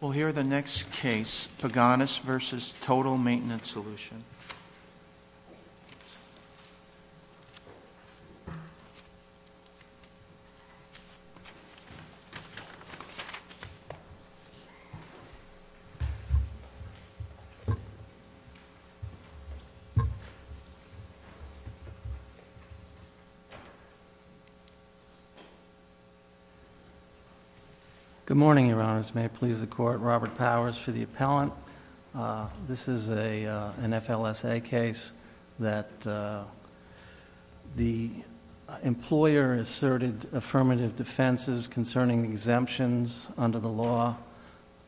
We'll hear the next case, Paganas v. Total Maintenance S Mr. Honors, may it please the Court, Robert Powers for the Appellant This is an FLSA case that the employer asserted affirmative defenses concerning exemptions under the law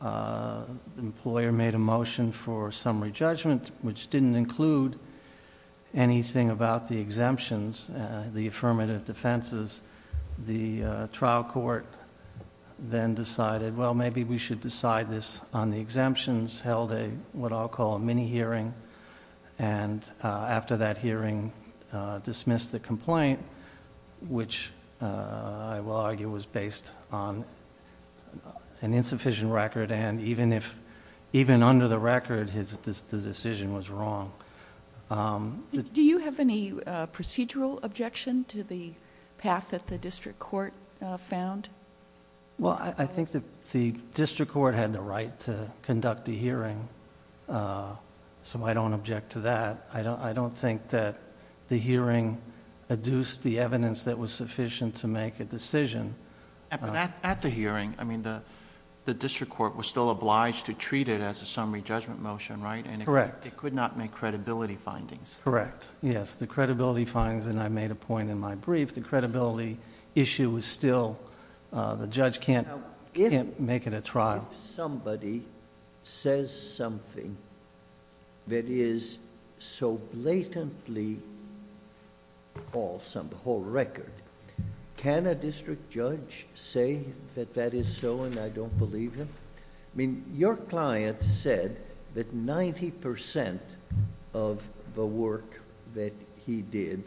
The employer made a motion for summary judgment, which didn't include anything about the exemptions, the affirmative defenses The trial court then decided, well, maybe we should decide this on the exemptions, held what I'll call a mini-hearing And after that hearing, dismissed the complaint, which I will argue was based on an insufficient record And even under the record, the decision was wrong Do you have any procedural objection to the path that the district court found? Well, I think that the district court had the right to conduct the hearing, so I don't object to that I don't think that the hearing adduced the evidence that was sufficient to make a decision At the hearing, the district court was still obliged to treat it as a summary judgment motion, right? Correct It could not make credibility findings Correct, yes, the credibility findings, and I made a point in my brief, the credibility issue was still... The judge can't make it a trial If somebody says something that is so blatantly false on the whole record, can a district judge say that that is so and I don't believe him? I mean, your client said that 90% of the work that he did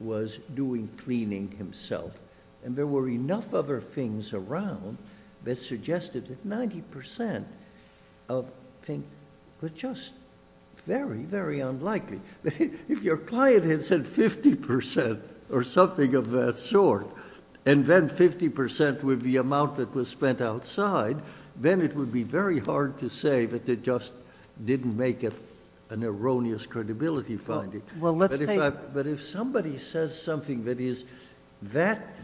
was doing cleaning himself And there were enough other things around that suggested that 90% of things were just very, very unlikely If your client had said 50% or something of that sort, and then 50% would be the amount that was spent outside Then it would be very hard to say that they just didn't make an erroneous credibility finding But if somebody says something that is that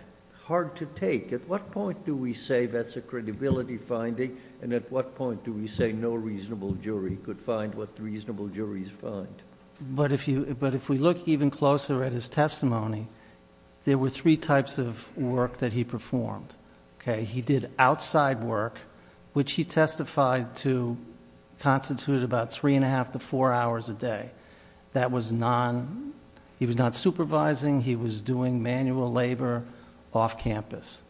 hard to take, at what point do we say that's a credibility finding? And at what point do we say no reasonable jury could find what reasonable juries find? But if we look even closer at his testimony, there were three types of work that he performed He did outside work, which he testified to constitute about three and a half to four hours a day He was not supervising, he was doing manual labor off campus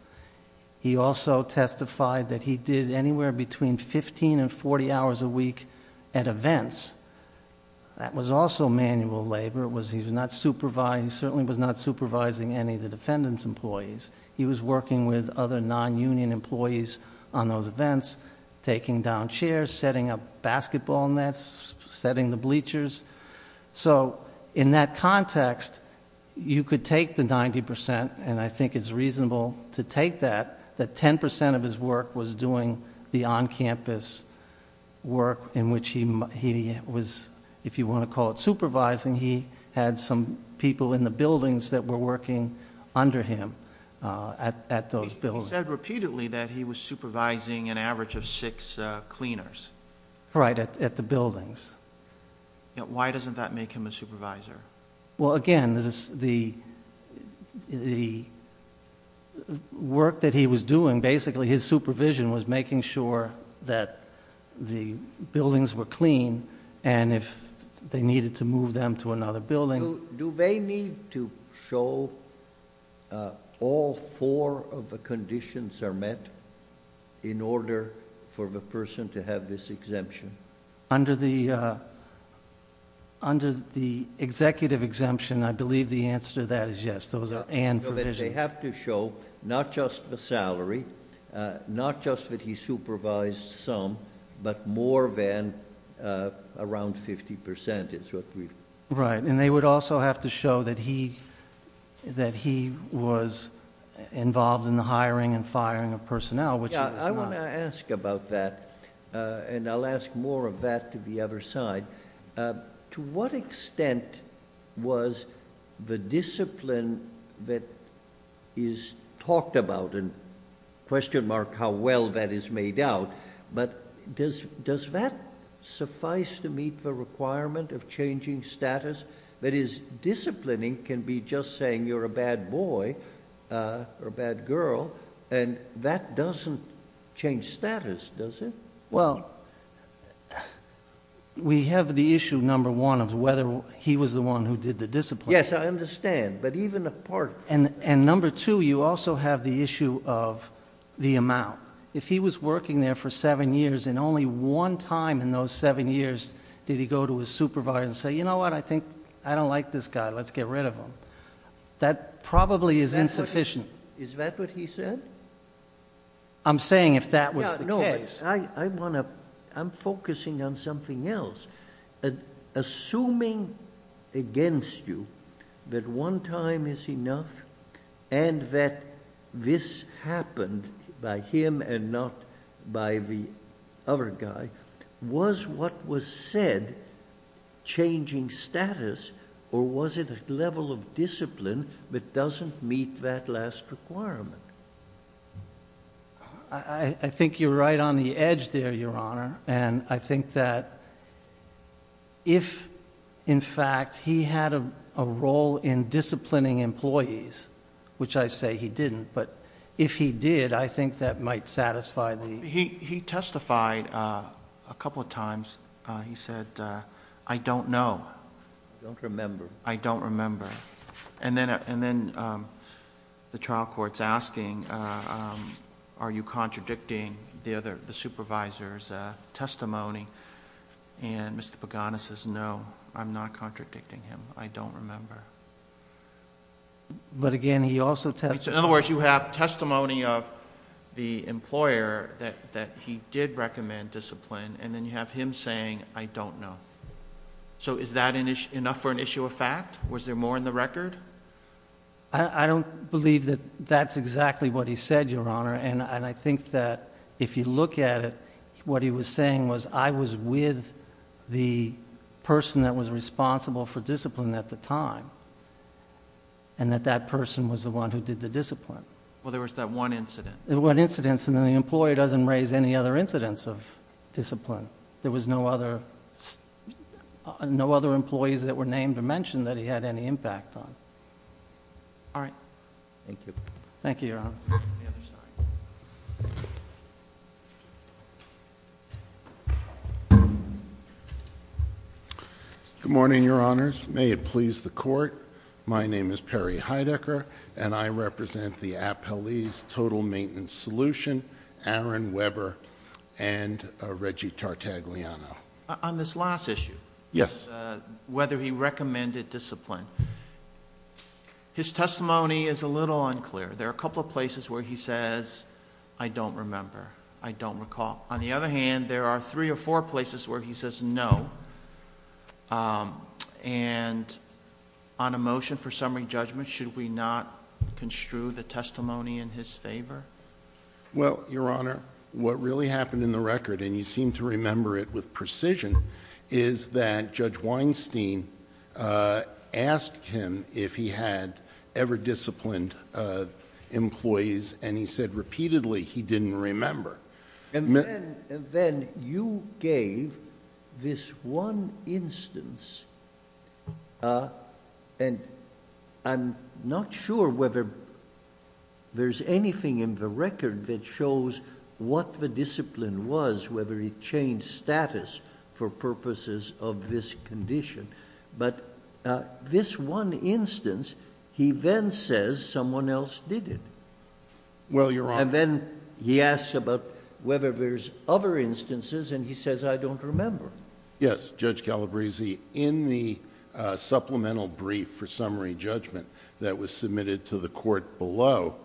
He also testified that he did anywhere between 15 and 40 hours a week at events That was also manual labor, he certainly was not supervising any of the defendant's employees He was working with other non-union employees on those events, taking down chairs, setting up basketball nets, setting the bleachers So in that context, you could take the 90%, and I think it's reasonable to take that That 10% of his work was doing the on-campus work in which he was, if you want to call it supervising He had some people in the buildings that were working under him at those buildings He said repeatedly that he was supervising an average of six cleaners Right, at the buildings Why doesn't that make him a supervisor? Well again, the work that he was doing, basically his supervision was making sure that the buildings were clean And if they needed to move them to another building Do they need to show all four of the conditions are met in order for the person to have this exemption? Under the executive exemption, I believe the answer to that is yes, those are and provisions They have to show not just the salary, not just that he supervised some, but more than around 50% Right, and they would also have to show that he was involved in the hiring and firing of personnel, which he was not Let me ask about that, and I'll ask more of that to the other side To what extent was the discipline that is talked about and question mark how well that is made out But does that suffice to meet the requirement of changing status? That is, disciplining can be just saying you're a bad boy or a bad girl, and that doesn't change status, does it? Well, we have the issue, number one, of whether he was the one who did the discipline Yes, I understand, but even apart from that And number two, you also have the issue of the amount If he was working there for seven years and only one time in those seven years did he go to his supervisor and say You know what, I don't like this guy, let's get rid of him That probably is insufficient Is that what he said? I'm saying if that was the case No, I'm focusing on something else Assuming against you that one time is enough and that this happened by him and not by the other guy Was what was said changing status or was it a level of discipline that doesn't meet that last requirement? I think you're right on the edge there, Your Honor And I think that if, in fact, he had a role in disciplining employees, which I say he didn't But if he did, I think that might satisfy the He testified a couple of times He said, I don't know I don't remember And then the trial court's asking, are you contradicting the supervisor's testimony? And Mr. Paganis says, no, I'm not contradicting him, I don't remember But again, he also testified In other words, you have testimony of the employer that he did recommend discipline And then you have him saying, I don't know So is that enough for an issue of fact? Was there more in the record? I don't believe that that's exactly what he said, Your Honor And I think that if you look at it, what he was saying was I was with the person that was responsible for discipline at the time And that that person was the one who did the discipline Well, there was that one incident There were incidents, and then the employer doesn't raise any other incidents of discipline There were no other employees that were named or mentioned that he had any impact on All right Thank you Thank you, Your Honor Good morning, Your Honors May it please the Court My name is Perry Heidecker And I represent the Appellee's Total Maintenance Solution Aaron Weber and Reggie Tartagliano On this last issue Yes Whether he recommended discipline His testimony is a little unclear There are a couple of places where he says, I don't remember, I don't recall On the other hand, there are three or four places where he says no And on a motion for summary judgment, should we not construe the testimony in his favor? Well, Your Honor, what really happened in the record, and you seem to remember it with precision Is that Judge Weinstein asked him if he had ever disciplined employees And he said repeatedly he didn't remember And then you gave this one instance And I'm not sure whether there's anything in the record that shows what the discipline was Whether he changed status for purposes of this condition But this one instance, he then says someone else did it Well, Your Honor And then he asks about whether there's other instances and he says I don't remember Yes, Judge Calabresi In the supplemental brief for summary judgment that was submitted to the court below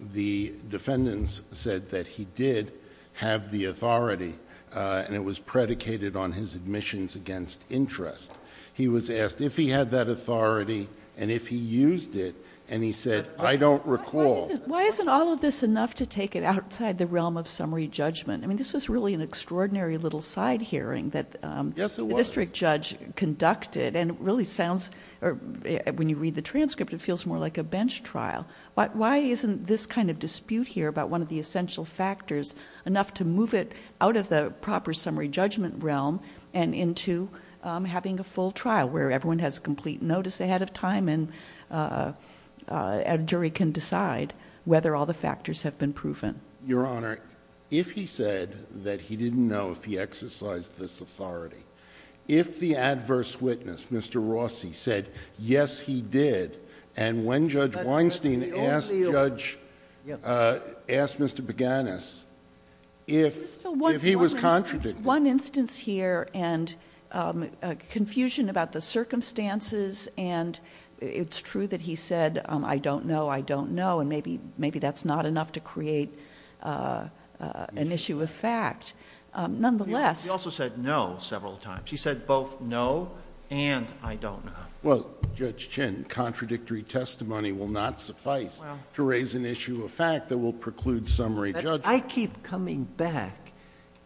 The defendants said that he did have the authority And it was predicated on his admissions against interest He was asked if he had that authority and if he used it And he said I don't recall Why isn't all of this enough to take it outside the realm of summary judgment? I mean, this was really an extraordinary little side hearing that the district judge conducted And it really sounds, when you read the transcript, it feels more like a bench trial Why isn't this kind of dispute here about one of the essential factors Enough to move it out of the proper summary judgment realm and into having a full trial Where everyone has complete notice ahead of time and a jury can decide whether all the factors have been proven Your Honor, if he said that he didn't know if he exercised this authority If the adverse witness, Mr. Rossi, said yes, he did And when Judge Weinstein asked Mr. Baganis if he was contradicting One instance here and confusion about the circumstances And it's true that he said I don't know, I don't know And maybe that's not enough to create an issue of fact Nonetheless He also said no several times He said both no and I don't know Well, Judge Chin, contradictory testimony will not suffice To raise an issue of fact that will preclude summary judgment I keep coming back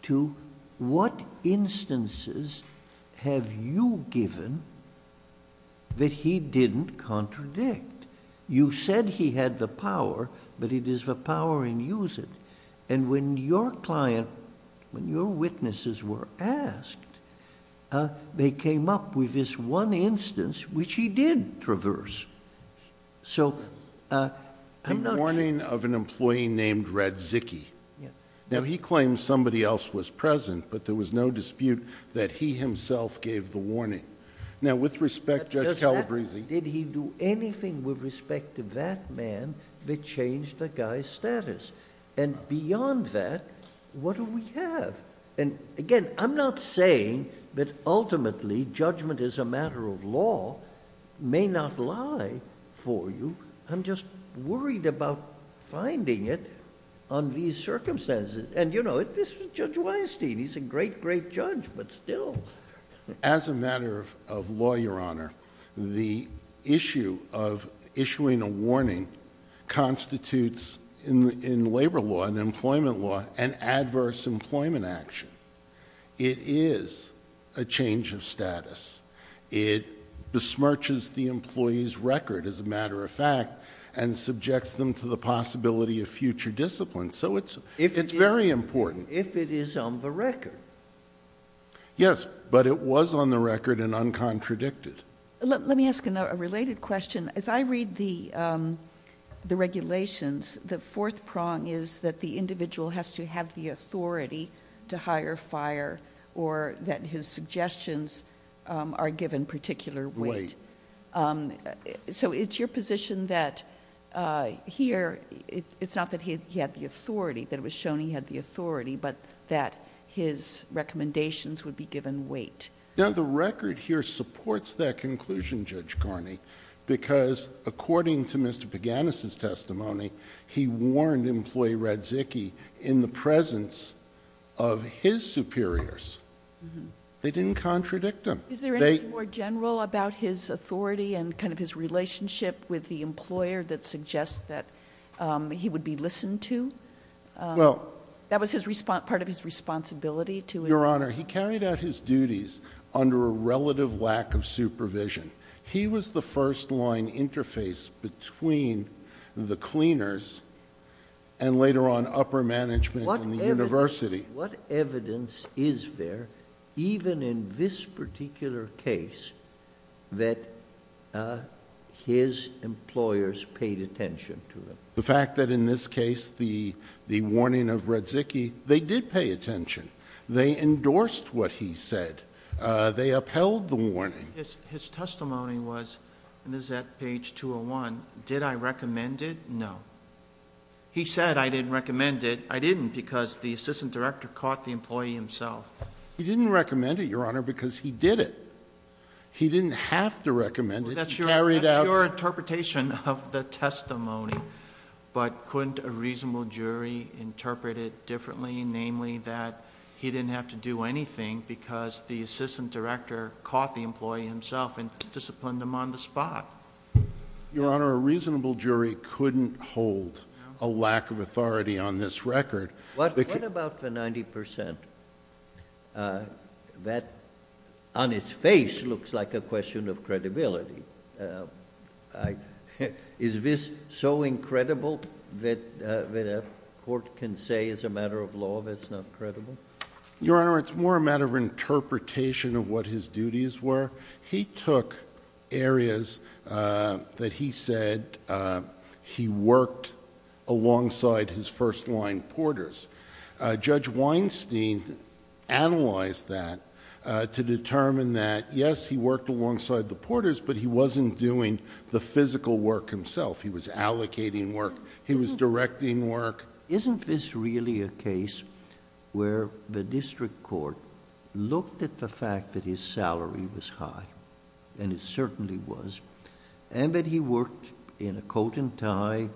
to what instances have you given that he didn't contradict You said he had the power, but it is the power in use it And when your client, when your witnesses were asked They came up with this one instance which he did traverse So, I'm not sure The warning of an employee named Radzicki Now, he claims somebody else was present, but there was no dispute that he himself gave the warning Now, with respect, Judge Calabresi Did he do anything with respect to that man that changed the guy's status? And beyond that, what do we have? And again, I'm not saying that ultimately judgment is a matter of law May not lie for you I'm just worried about finding it on these circumstances And you know, this is Judge Weinstein He's a great, great judge, but still As a matter of law, Your Honor The issue of issuing a warning Constitutes, in labor law and employment law, an adverse employment action It is a change of status It besmirches the employee's record, as a matter of fact And subjects them to the possibility of future discipline So, it's very important If it is on the record Yes, but it was on the record and uncontradicted Let me ask a related question As I read the regulations The fourth prong is that the individual has to have the authority To hire, fire, or that his suggestions are given particular weight So, it's your position that Here, it's not that he had the authority That it was shown he had the authority But that his recommendations would be given weight Now, the record here supports that conclusion, Judge Carney Because, according to Mr. Paganis' testimony He warned employee Radzicki In the presence of his superiors They didn't contradict him Is there anything more general about his authority And kind of his relationship with the employer That suggests that he would be listened to? Well That was part of his responsibility to him Your Honor, he carried out his duties Under a relative lack of supervision He was the first line interface between the cleaners And later on, upper management in the university What evidence is there Even in this particular case That his employers paid attention to him? The fact that in this case The warning of Radzicki They did pay attention They endorsed what he said They upheld the warning His testimony was And this is at page 201 Did I recommend it? No He said I didn't recommend it I didn't because the assistant director Caught the employee himself He didn't recommend it, Your Honor Because he did it He didn't have to recommend it That's your interpretation of the testimony But couldn't a reasonable jury Interpret it differently Namely that he didn't have to do anything Because the assistant director Caught the employee himself And disciplined him on the spot Your Honor, a reasonable jury Couldn't hold a lack of authority on this record What about the 90% That on its face Looks like a question of credibility Is this so incredible That a court can say As a matter of law that it's not credible? Your Honor, it's more a matter of interpretation Of what his duties were He took areas that he said He worked alongside his first-line porters Judge Weinstein analyzed that To determine that, yes, he worked alongside the porters But he wasn't doing the physical work himself He was allocating work He was directing work Isn't this really a case Where the district court Looked at the fact that his salary was high And it certainly was And that he worked in a coat and tie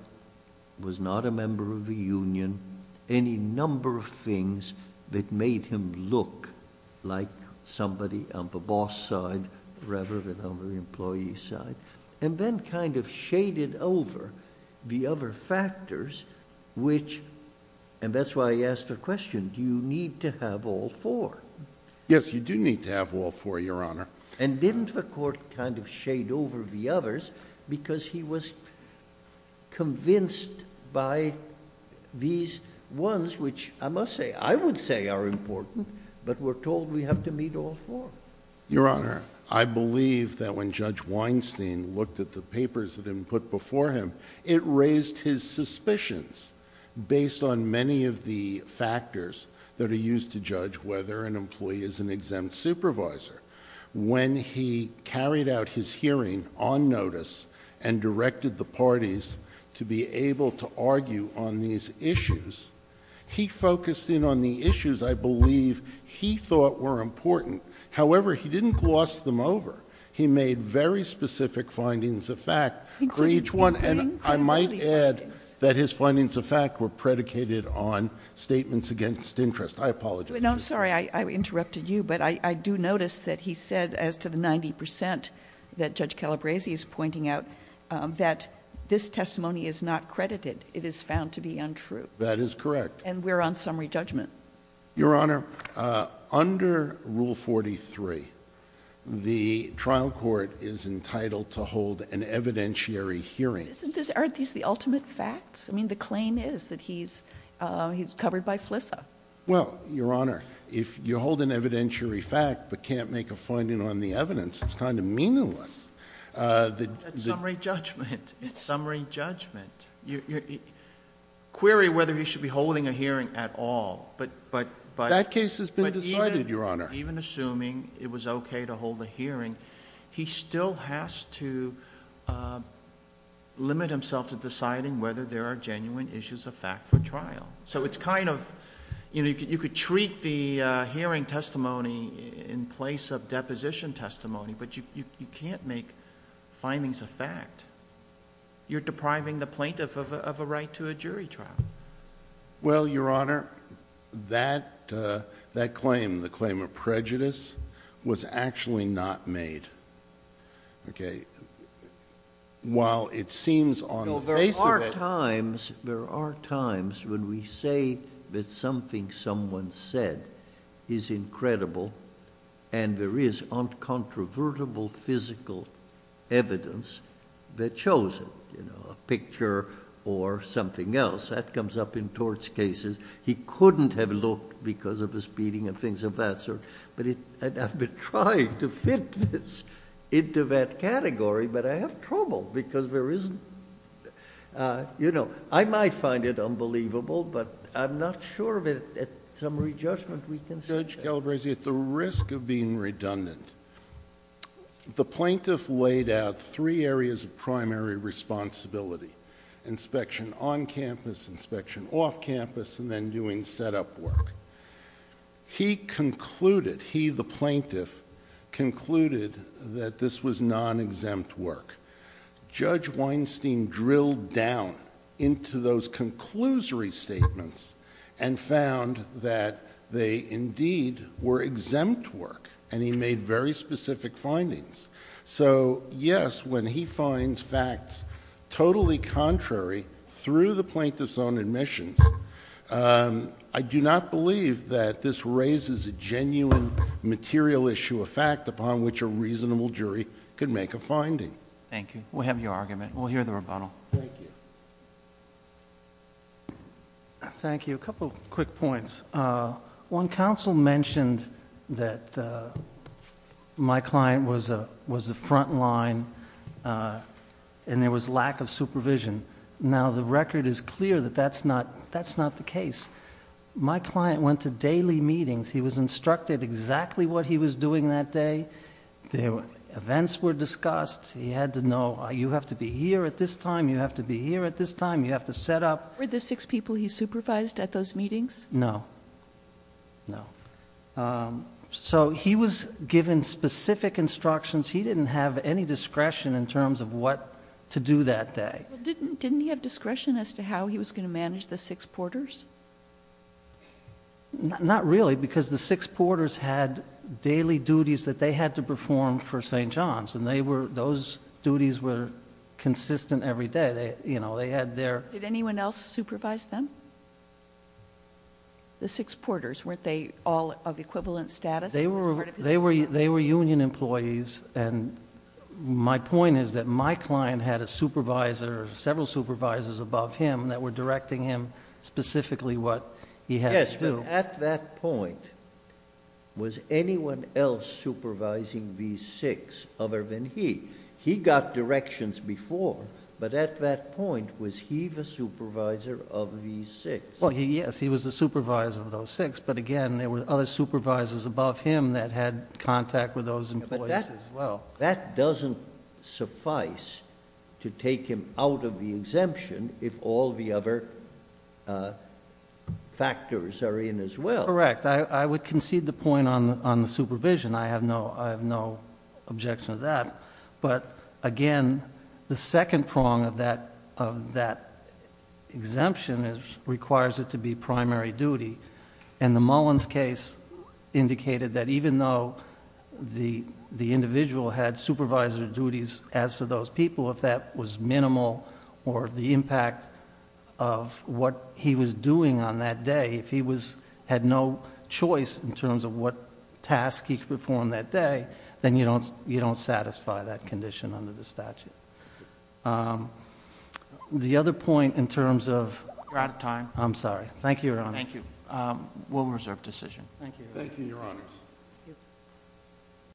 Was not a member of a union Any number of things that made him look Like somebody on the boss' side Rather than on the employee's side And then kind of shaded over The other factors which And that's why I asked the question Do you need to have all four Yes, you do need to have all four, Your Honor And didn't the court kind of shade over the others Because he was convinced by These ones which I must say I would say are important But we're told we have to meet all four Your Honor, I believe that when Judge Weinstein Looked at the papers that he put before him It raised his suspicions Based on many of the factors That are used to judge whether an employee Is an exempt supervisor When he carried out his hearing on notice And directed the parties To be able to argue on these issues He focused in on the issues I believe He thought were important However, he didn't gloss them over He made very specific findings of fact For each one And I might add that his findings of fact Were predicated on statements against interest I apologize I'm sorry I interrupted you But I do notice that he said As to the 90% that Judge Calabresi is pointing out That this testimony is not credited It is found to be untrue That is correct And we're on summary judgment Your Honor, under Rule 43 The trial court is entitled To hold an evidentiary hearing Aren't these the ultimate facts? I mean the claim is that he's He's covered by FLISA Well, Your Honor If you hold an evidentiary fact But can't make a finding on the evidence It's kind of meaningless That's summary judgment It's summary judgment Query whether he should be holding a hearing at all But That case has been decided, Your Honor Even assuming it was okay to hold a hearing He still has to Limit himself to deciding Whether there are genuine issues of fact for trial So it's kind of You know, you could treat the hearing testimony In place of deposition testimony But you can't make findings of fact You're depriving the plaintiff of a right to a jury trial Well, Your Honor That That claim The claim of prejudice Was actually not made Okay While it seems on the face of it No, there are times There are times when we say That something someone said Is incredible And there is uncontrovertible physical evidence That shows it You know, a picture Or something else That comes up in torts cases He couldn't have looked Because of his beating and things of that sort But it I've been trying to fit this Into that category But I have trouble Because there isn't You know I might find it unbelievable But I'm not sure of it Summary judgment we can say Judge Galbraith At the risk of being redundant The plaintiff laid out Three areas of primary responsibility Inspection on campus Inspection off campus And then doing set-up work He concluded He, the plaintiff Concluded that this was non-exempt work Judge Weinstein drilled down Into those conclusory statements And found that They indeed were exempt work And he made very specific findings So, yes, when he finds facts Totally contrary Through the plaintiff's own admissions I do not believe that this raises A genuine material issue A fact upon which a reasonable jury Could make a finding Thank you We'll have your argument We'll hear the rebuttal Thank you Thank you A couple of quick points One, counsel mentioned That my client Was the front line And there was lack of supervision Now the record is clear That that's not the case My client went to daily meetings He was instructed exactly What he was doing that day Events were discussed He had to know You have to be here at this time You have to be here at this time You have to set up Were the six people he supervised At those meetings? No No So he was given specific instructions He didn't have any discretion In terms of what to do that day Didn't he have discretion As to how he was going to manage The six porters? Not really Because the six porters Had daily duties That they had to perform For St. John's And those duties Were consistent every day They had their Did anyone else supervise them? The six porters Weren't they all of equivalent status? They were union employees And my point is That my client had a supervisor Several supervisors above him That were directing him Specifically what he had to do Yes, but at that point Was anyone else supervising These six other than he? He got directions before But at that point Was he the supervisor of these six? Well, yes He was the supervisor of those six But again There were other supervisors above him That had contact with those employees as well Well, that doesn't suffice To take him out of the exemption If all the other factors are in as well Correct I would concede the point on the supervision I have no objection to that But again The second prong of that exemption Requires it to be primary duty And the Mullins case Indicated that even though The individual had supervisor duties As to those people If that was minimal Or the impact of what he was doing on that day If he had no choice In terms of what task he could perform that day Then you don't satisfy that condition Under the statute The other point in terms of You're out of time I'm sorry Thank you, Your Honor Thank you We'll reserve decision Thank you, Your Honors Thank you